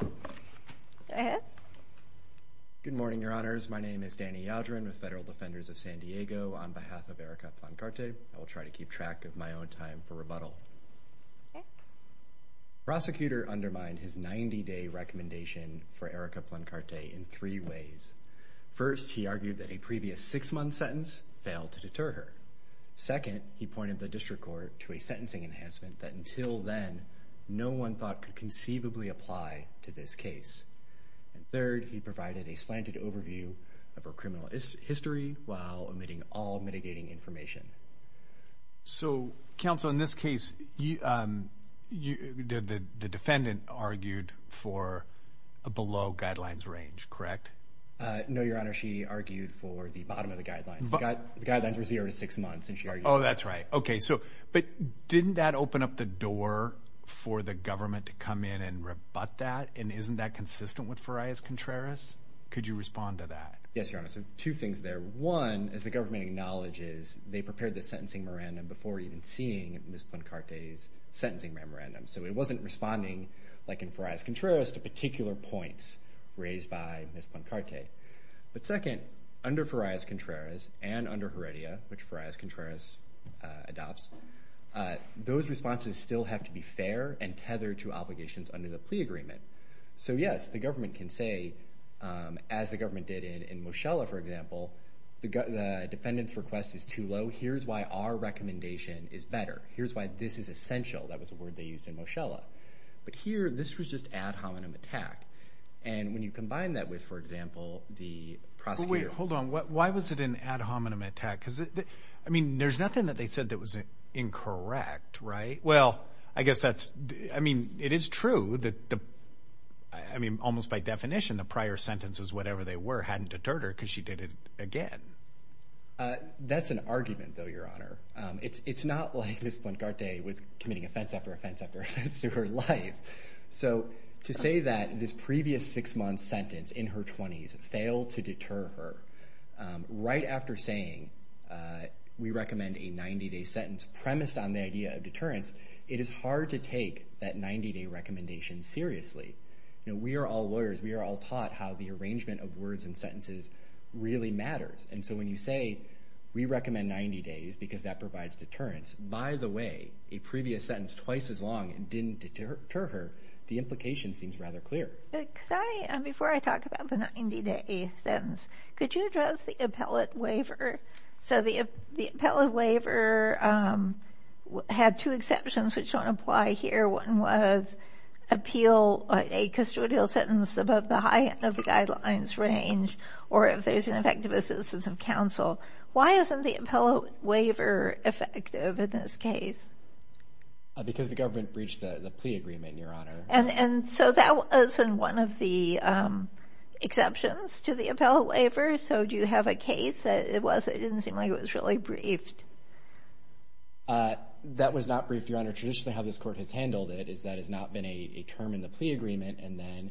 Go ahead. Good morning, Your Honors. My name is Danny Yaldrin with Federal Defenders of San Diego. On behalf of Erika Plancarte, I will try to keep track of my own time for rebuttal. Okay. Prosecutor undermined his 90-day recommendation for Erika Plancarte in three ways. First, he argued that a previous six-month sentence failed to deter her. Second, he pointed the district court to a sentencing enhancement that, until then, no one thought could conceivably apply to this case. And third, he provided a slanted overview of her criminal history while omitting all mitigating information. So, counsel, in this case, the defendant argued for a below-guidelines range, correct? No, Your Honor. She argued for the bottom of the guidelines. The guidelines were zero to six months, and she argued for that. Oh, that's right. Okay. So, but didn't that open up the door for the government to come in and rebut that? And isn't that consistent with Farias Contreras? Could you respond to that? Yes, Your Honor. So, two things there. One, as the government acknowledges, they prepared the sentencing memorandum before even seeing Ms. Plancarte's sentencing memorandum. So, it wasn't responding, like in Farias Contreras, to particular points raised by Ms. Plancarte. But second, under Farias Contreras and under Heredia, which Farias Contreras adopts, those responses still have to be fair and tethered to obligations under the plea agreement. So, yes, the government can say, as the government did in Mochella, for example, the defendant's request is too low. Here's why our recommendation is better. Here's why this is essential. That was a word they used in Mochella. But here, this was just ad hominem attack. And when you combine that with, for example, the prosecutor- Wait, hold on. Why was it an ad hominem attack? Because, I mean, there's nothing that they said that was incorrect, right? Well, I guess that's, I mean, it is true that the, I mean, almost by definition, the prior sentences, whatever they were, hadn't deterred her because she did it again. That's an argument, though, Your Honor. It's not like Ms. Plancarte was committing offense after offense after offense through her life. So to say that this previous six-month sentence in her 20s failed to deter her, right after saying, we recommend a 90-day sentence, premised on the idea of deterrence, it is hard to take that 90-day recommendation seriously. You know, we are all lawyers. We are all taught how the arrangement of words and sentences really matters. And so when you say, we recommend 90 days because that provides deterrence, by the way, a previous sentence twice as long and didn't deter her, the implication seems rather clear. Before I talk about the 90-day sentence, could you address the appellate waiver? So the appellate waiver had two exceptions which don't apply here. One was appeal a custodial sentence above the high end of the guidelines range, or if there's an effective assistance of counsel. Why isn't the appellate waiver effective in this case? Because the government breached the plea agreement, Your Honor. And so that wasn't one of the exceptions to the appellate waiver? So do you have a case that it didn't seem like it was really briefed? That was not briefed, Your Honor. Traditionally, how this court has handled it is that it's not been a term in the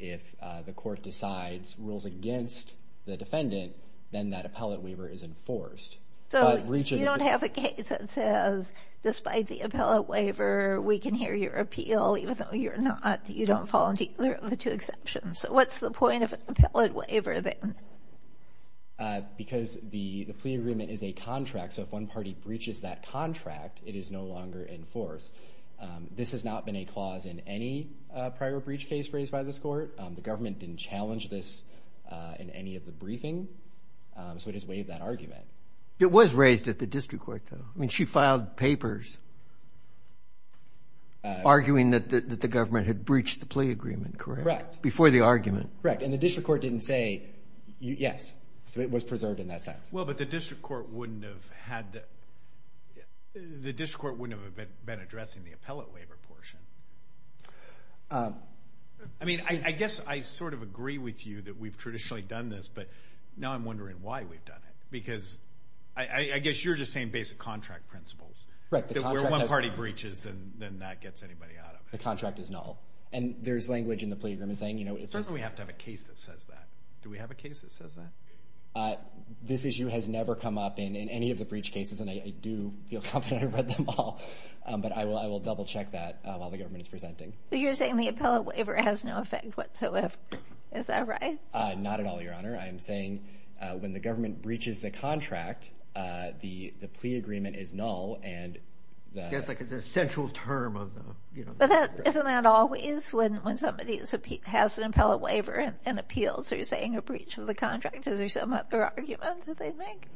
the court decides rules against the defendant, then that appellate waiver is enforced. So you don't have a case that says, despite the appellate waiver, we can hear your appeal even though you're not, you don't fall into either of the two exceptions. So what's the point of an appellate waiver then? Because the plea agreement is a contract. So if one party breaches that contract, it is no longer enforced. This has not been a clause in any prior breach case raised by this court. The government didn't challenge this in any of the briefing. So it has waived that argument. It was raised at the district court, though. I mean, she filed papers arguing that the government had breached the plea agreement, correct? Correct. Before the argument. Correct. And the district court didn't say yes. So it was preserved in that sense. Well, but the district court wouldn't have been addressing the appellate waiver portion. I mean, I guess I sort of agree with you that we've traditionally done this, but now I'm wondering why we've done it. Because I guess you're just saying basic contract principles. Right. If one party breaches, then that gets anybody out of it. The contract is null. And there's language in the plea agreement saying, you know, it doesn't. We have to have a case that says that. Do we have a case that says that? This issue has never come up in any of the breach cases, and I do feel confident I read them all. But I will double check that while the government is presenting. But you're saying the appellate waiver has no effect whatsoever. Is that right? Not at all, Your Honor. I'm saying when the government breaches the contract, the plea agreement is null. And that's like the central term of the, you know. But isn't that always when somebody has an appellate waiver and appeals, they're saying a breach of the contract? Is there some other argument that they make?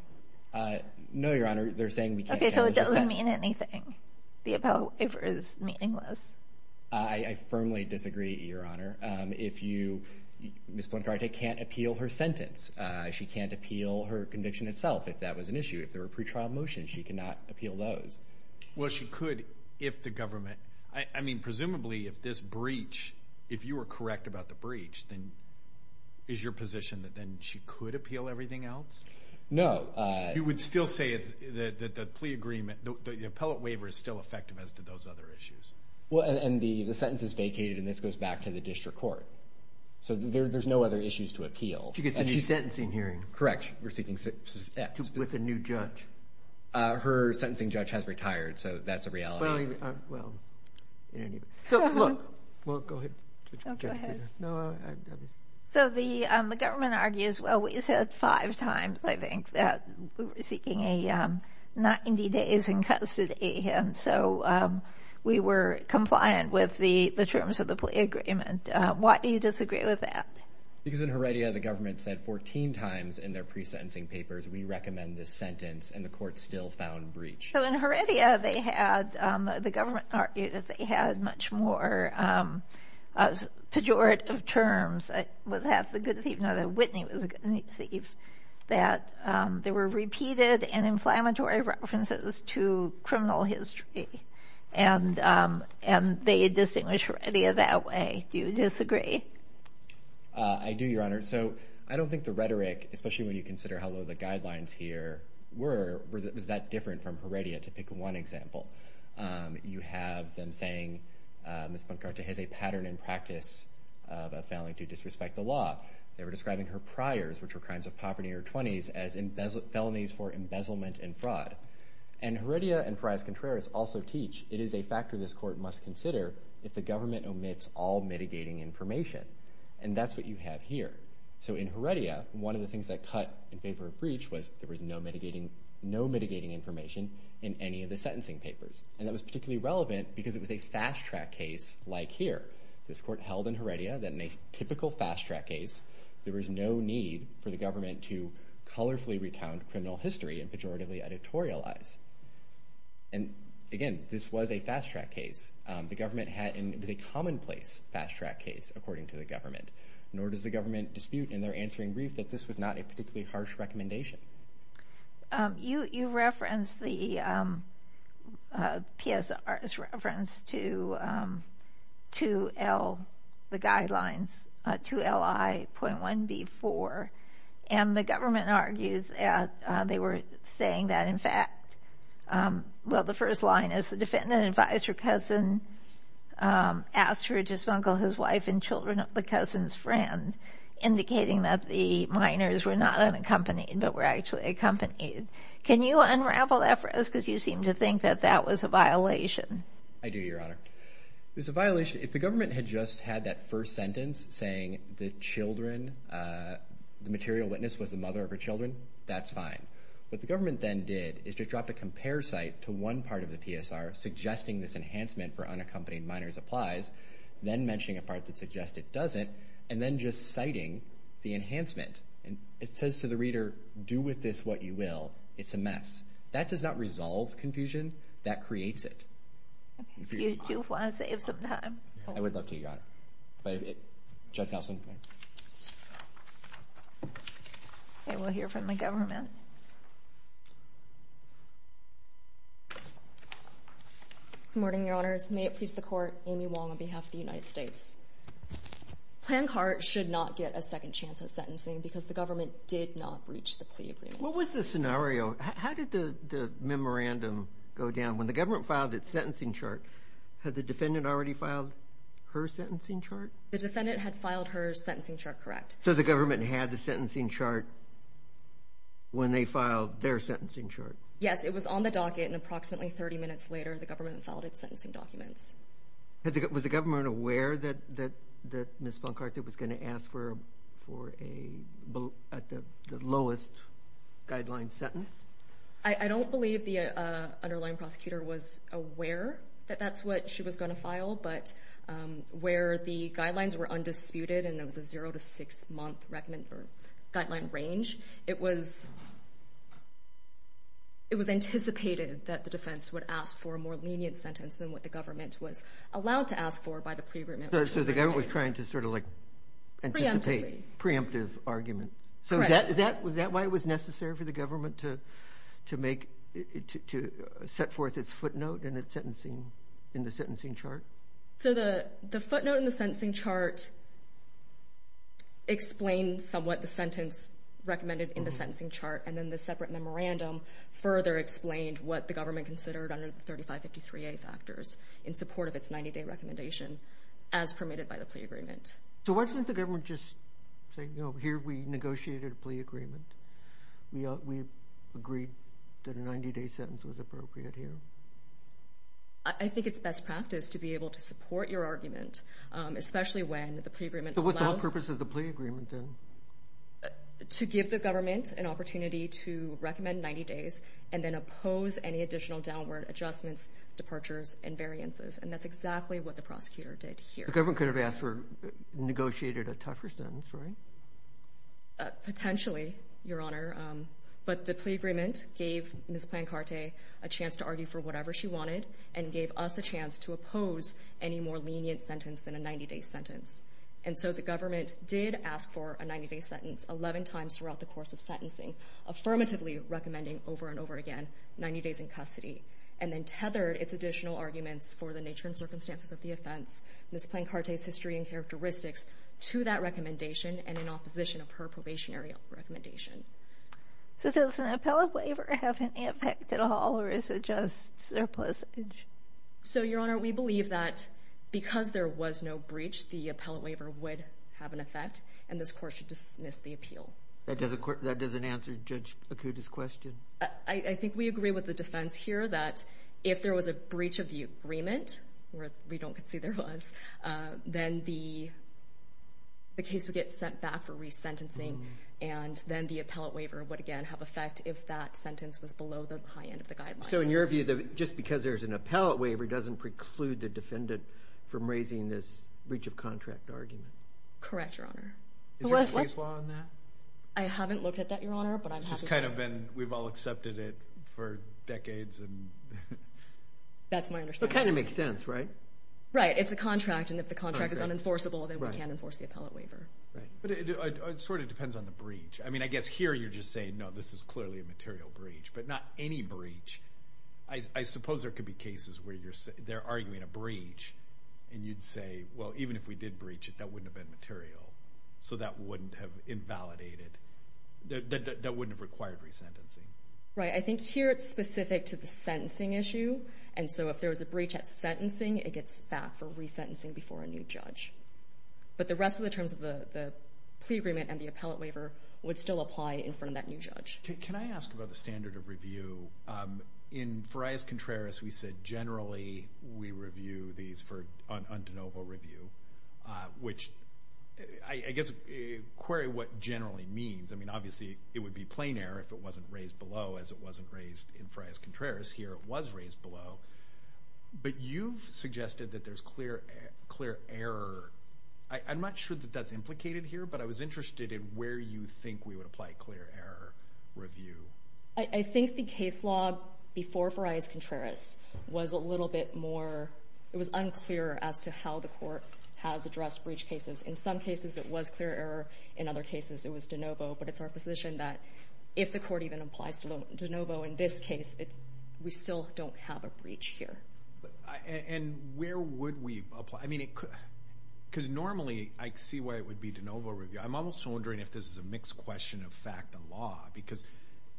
Uh, no, Your Honor. They're saying we can't. Okay, so it doesn't mean anything. The appellate waiver is meaningless. I firmly disagree, Your Honor. If you, Ms. Blancarte can't appeal her sentence. She can't appeal her conviction itself, if that was an issue. If there were pre-trial motions, she cannot appeal those. Well, she could if the government, I mean, presumably if this breach, if you were correct about the breach, then is your position that then she could appeal everything else? No. You would still say that the plea agreement, the appellate waiver, is still effective as to those other issues? Well, and the sentence is vacated, and this goes back to the district court. So there's no other issues to appeal. She gets a new sentencing hearing. Correct. Receiving, with a new judge. Her sentencing judge has retired, so that's a reality. Well, anyway. So, look. Well, go ahead. So the government argues, well, we said five times, I think, that we were seeking a 90 days in custody, and so we were compliant with the terms of the plea agreement. Why do you disagree with that? Because in Heredia, the government said 14 times in their pre-sentencing papers, we recommend this sentence, and the court still found breach. So in Heredia, they had, the government argued that they had much more pejorative terms, that it was half the good thief, not that Whitney was a good thief, that there were repeated and inflammatory references to criminal history, and they had distinguished Heredia that way. Do you disagree? I do, Your Honor. So I don't think the rhetoric, especially when you consider how low the guidelines here were, was that different from Heredia, to pick one example. You have them saying, Ms. Bancarte has a pattern and practice of a failing to disrespect the law. They were describing her priors, which were crimes of poverty in her 20s, as felonies for embezzlement and fraud. And Heredia and Fras Contreras also teach, it is a factor this court must consider if the government omits all mitigating information. And that's what you have here. So in Heredia, one of the things that cut in favor of breach was there was no mitigating information in any of the sentencing papers. And that was particularly relevant because it was a fast-track case like here. This court held in Heredia that in a typical fast-track case, there was no need for the government to colorfully recount criminal history and pejoratively editorialize. And again, this was a fast-track case. The government had, it was a commonplace fast-track case, according to the government. Nor does the government dispute in their answering brief that this was not a particularly harsh recommendation. You, you referenced the PSR's reference to, to L, the guidelines to LI.1B4. And the government argues that they were saying that, in fact, well, the first line is the defendant advised her cousin asked her to smuggle his wife and children of the cousin's friend, indicating that the minors were not unaccompanied but were actually accompanied. Can you unravel that for us? Because you seem to think that that was a violation. I do, Your Honor. It was a violation. If the government had just had that first sentence saying the children, the material witness was the mother of her children, that's fine. What the government then did is just dropped a compare site to one part of the PSR suggesting this enhancement for unaccompanied minors applies, then mentioning a part that suggests it doesn't, and then just citing the enhancement. And it says to the reader, do with this what you will. It's a mess. That does not resolve confusion. That creates it. You do want to save some time. I would love to, Your Honor. Judge Nelson. I will hear from the government. Good morning, Your Honors. May it please the court, Amy Wong on behalf of the United States. Planned CART should not get a second chance at sentencing because the government did not reach the plea agreement. What was the scenario? How did the memorandum go down? When the government filed its sentencing chart, had the defendant already filed her sentencing chart? The defendant had filed her sentencing chart correct. So the government had the sentencing chart when they filed their sentencing chart? Yes, it was on the docket and approximately 30 minutes later the government filed its sentencing documents. Was the government aware that Ms. Boncarta was going to ask for the lowest guideline sentence? I don't believe the underlying prosecutor was aware that that's what she was going to file, but where the guidelines were undisputed and it was a zero to six-month guideline range, it was anticipated that the defense would ask for a more lenient sentence than what the government was allowed to ask for by the pre-agreement. So the government was trying to anticipate preemptive arguments. Correct. Was that why it was necessary for the government to set forth its footnote in the sentencing chart? So the footnote in the sentencing chart explains somewhat the sentence recommended in the sentencing chart and then the separate memorandum further explained what the government considered under the 3553A factors in support of its 90-day recommendation as permitted by the plea agreement. So why didn't the government just say, you know, here we negotiated a plea agreement? We agreed that a 90-day sentence was appropriate here. I think it's best practice to be able to support your argument, especially when the pre-agreement allows... So what's the purpose of the plea agreement then? To give the government an opportunity to recommend 90 days and then oppose any additional downward adjustments, departures, and variances. And that's exactly what the prosecutor did here. The government could have asked for negotiated a tougher sentence, right? Potentially, your honor. But the plea agreement gave Ms. Plancarte a chance to argue for whatever she wanted and gave us a chance to oppose any more lenient sentence than a 90-day sentence. And so the government did ask for a 90-day sentence 11 times throughout the course of sentencing, affirmatively recommending over and over again 90 days in custody, and then tethered its additional arguments for the nature and circumstances of the offense, Ms. Plancarte's history and characteristics to that recommendation and in opposition of her probationary recommendation. So does an appellate waiver have any effect at all or is it just surplusage? So your honor, we believe that because there was no breach, the appellate waiver would have an effect and this court should dismiss the appeal. That doesn't answer Judge Akuta's question? I think we agree with the defense here that if there was a breach of the agreement, where we don't concede there was, then the case would get sent back for resentencing and then the appellate waiver would again have effect if that sentence was below the high end of the guidelines. So in your view, just because there's an appellate waiver doesn't preclude the defendant from raising this breach of contract argument? Correct, your honor. Is there a case law on that? I haven't looked at that, your honor. It's just kind of been, we've all accepted it for decades and... That's my understanding. It kind of makes sense, right? Right, it's a contract and if the contract is unenforceable, then we can't enforce the appellate waiver. Right, but it sort of depends on the breach. I mean, I guess here you're just saying, no, this is clearly a material breach, but not any breach. I suppose there could be cases where they're arguing a breach and you'd say, well, even if we did breach it, that wouldn't have been material. So that wouldn't have invalidated, that wouldn't have required resentencing. Right, I think here it's specific to the sentencing issue and so if there was a breach at sentencing, it gets back for resentencing before a new judge. But the rest of the terms of the plea agreement and the appellate waiver would still apply in front of that new judge. Can I ask about the standard of review? In Farias Contreras, we said generally we review these for undeniable review, which I guess, query what generally means. I mean, obviously it would be plain error if it wasn't raised below as it wasn't raised in Farias Contreras. Here it was raised below, but you've suggested that there's clear error. I'm not sure that that's implicated here, but I was interested in where you think we would apply clear error review. I think the case law before Farias Contreras was a little bit more, it was unclear as to how the court has addressed breach cases. In some cases, it was clear error. In other cases, it was de novo, but it's our position that if the court even applies de novo in this case, we still don't have a breach here. And where would we apply? I mean, because normally I see why it would be de novo review. I'm almost wondering if this is a mixed question of fact and law, because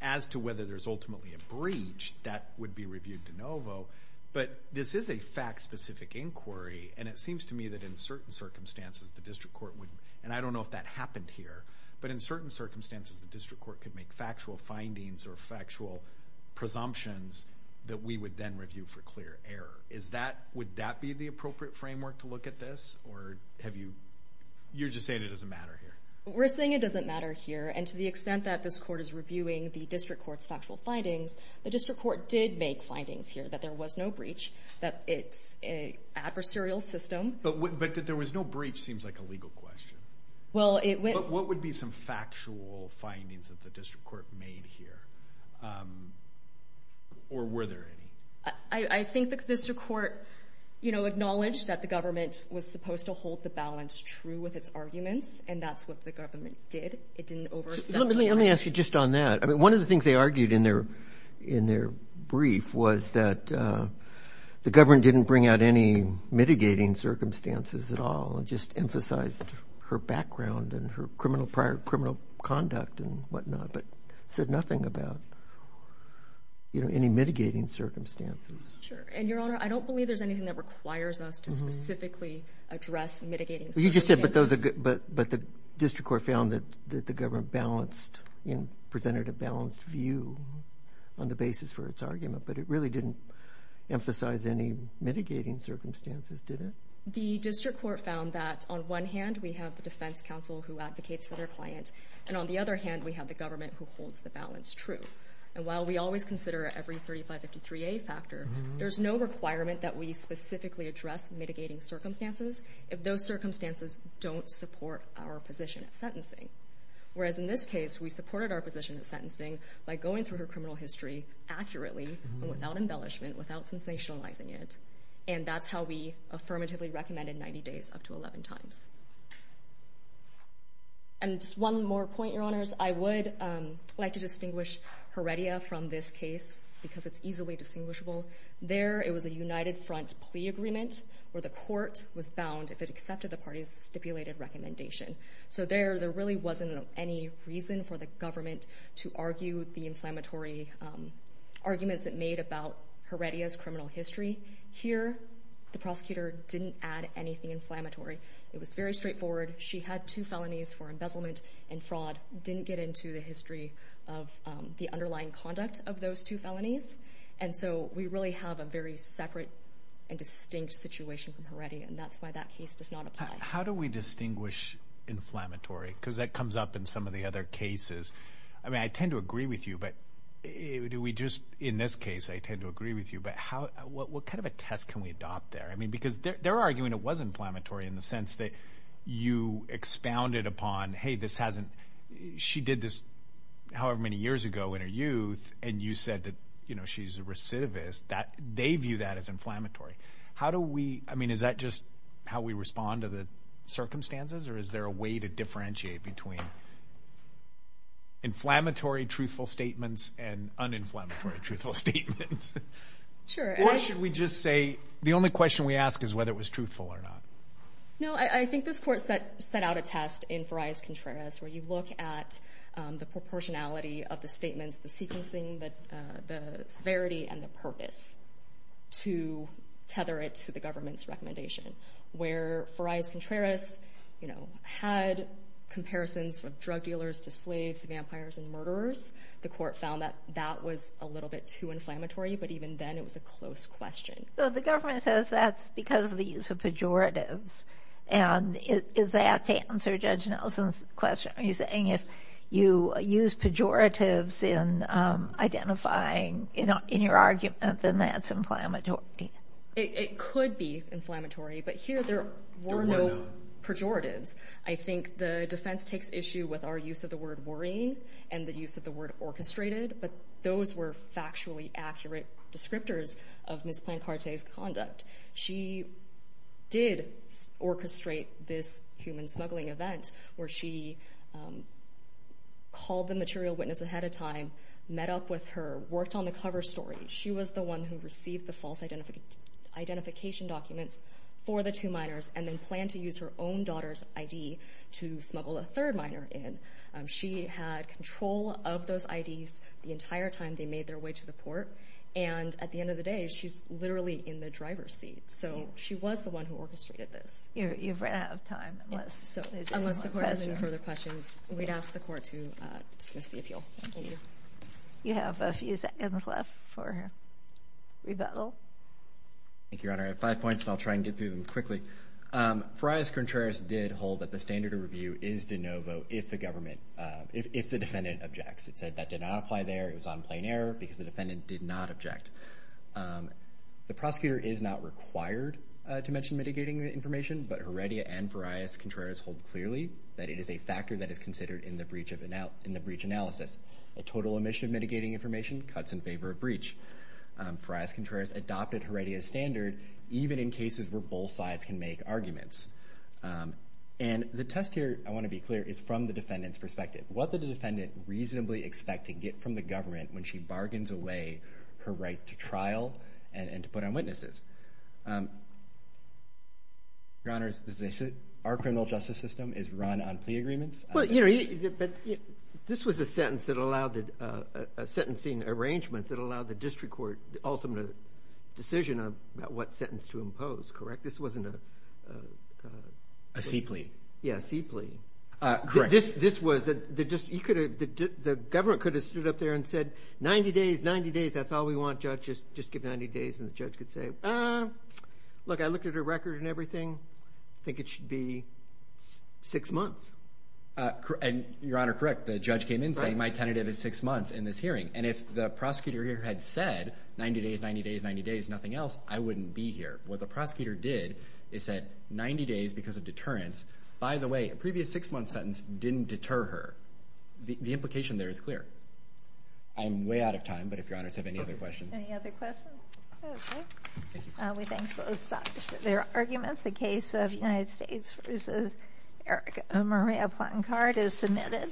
as to whether there's ultimately a breach, that would be reviewed de novo. But this is a fact-specific inquiry, and it seems to me that in certain circumstances, the district court would, and I don't know if that happened here, but in certain circumstances, the district court could make factual findings or factual presumptions that we would then review for clear error. Is that, would that be the appropriate framework to look at this, or have you, you're just saying it doesn't matter here? We're saying it doesn't matter here, and to the extent that this court is reviewing the district court's factual findings, the district court did make findings here that there was no breach, that it's a adversarial system. But that there was no breach seems like a legal question. But what would be some factual findings that the district court made here, or were there any? I think the district court, you know, acknowledged that the government was supposed to hold the balance true with its arguments, and that's what the government did. It didn't overstep. Let me ask you just on that. I mean, one of the things they argued in their brief was that the government didn't bring out any mitigating circumstances at all, just emphasized her background and her criminal conduct and whatnot, but said nothing about, you know, any mitigating circumstances. Sure. And, Your Honor, I don't believe there's anything that requires us to specifically address mitigating circumstances. You just said, but the district court found that the government balanced, you know, presented a balanced view on the basis for its argument, but it really didn't emphasize any mitigating circumstances, did it? The district court found that on one hand, we have the defense counsel who advocates for their client, and on the other hand, we have the government who holds the balance true. And while we always consider every 3553A factor, there's no requirement that we specifically address mitigating circumstances if those circumstances don't support our position at sentencing. Whereas in this case, we supported our position at sentencing by going through her criminal history accurately and without embellishment, without sensationalizing it, and that's how we affirmatively recommended 90 days up to 11 times. And just one more point, Your Honors. I would like to distinguish Heredia from this case, because it's easily distinguishable. There, it was a united front plea agreement, where the court was bound, if it accepted the party's stipulated recommendation. So there, there really wasn't any reason for the government to argue the inflammatory arguments it made about Heredia's criminal history. Here, the prosecutor didn't add anything inflammatory. It was very straightforward. She had two felonies for embezzlement and fraud, didn't get into the history of the underlying conduct of those two felonies. And so, we really have a very separate and distinct situation from Heredia, and that's why that case does not apply. How do we distinguish inflammatory? Because that comes up in some of the other cases. I mean, I tend to agree with you, but do we just, in this case, I tend to agree with you, but how, what kind of a test can we adopt there? I mean, because they're arguing it was inflammatory in the sense that you expounded upon, hey, this hasn't, she did this however many years ago in her youth, and you said that, you know, she's a recidivist. That, they view that as inflammatory. How do we, I mean, is that just how we respond to the circumstances, or is there a way to differentiate between inflammatory truthful statements and uninflammatory truthful statements? Sure. Or should we just say, the only question we ask is whether it was truthful or not? No, I think this court set out a test in Farias Contreras where you look at the proportionality of the statements, the sequencing, the severity, and the purpose to tether it to the government's recommendation, where Farias Contreras, you know, had comparisons with drug dealers to slaves, vampires, and murderers. The court found that that was a little bit too inflammatory, but even then it was a close question. So the government says that's because of the use of pejoratives, and is that to answer Judge Nelson's question? Are you saying if you use pejoratives in identifying, you know, in your argument, then that's inflammatory? It could be inflammatory, but here there were no pejoratives. I think the defense takes issue with our use of the word worrying and the use of the word orchestrated, but those were factually accurate descriptors of Ms. Plancarte's conduct. She did orchestrate this human smuggling event where she called the material witness ahead of time, met up with her, worked on the cover story. She was the one who received the false identification documents for the two minors and then planned to use her own daughter's ID to smuggle a third minor in. She had control of those IDs the entire time they made their way to the port, and at the end of the day, she's literally in the driver's seat. So she was the one who orchestrated this. You've run out of time. Unless the court has any further questions, we'd ask the court to dismiss the appeal. Thank you. You have a few seconds left for rebuttal. Thank you, Your Honor. I have five points, and I'll try and get through them quickly. Farias Contreras did hold that the standard of review is de novo if the defendant objects. It said that did not apply there. It was on plain error because the defendant did not object. The prosecutor is not required to mention mitigating the information, but Heredia and Farias Contreras hold clearly that it is a factor that is considered in the breach analysis. A total omission of mitigating information cuts in favor of breach. Farias Contreras adopted Heredia's standard even in cases where both sides can make arguments. And the test here, I want to be clear, is from the defendant's perspective. What did the defendant reasonably expect to get from the government when she bargains away her right to trial and to put on witnesses? Your Honor, our criminal justice system is run on plea agreements. This was a sentencing arrangement that allowed the district court the ultimate decision about what sentence to impose, correct? This wasn't a... A C plea. Yeah, a C plea. Correct. The government could have stood up there and said, 90 days, 90 days, that's all we want, just give 90 days. And the judge could say, look, I looked at her record and everything, I think it should be six months. And Your Honor, correct, the judge came in saying my tentative is six months in this hearing. And if the prosecutor here had said 90 days, 90 days, 90 days, nothing else, I wouldn't be here. What the prosecutor did is said 90 days because of deterrence. By the way, a previous six month sentence didn't deter her. The implication there is clear. I'm way out of time, but if Your Honors have any other questions. Any other questions? Okay. Thank you. We thank both sides for their arguments. The case of United States v. Erica Maria Platt and Card is submitted.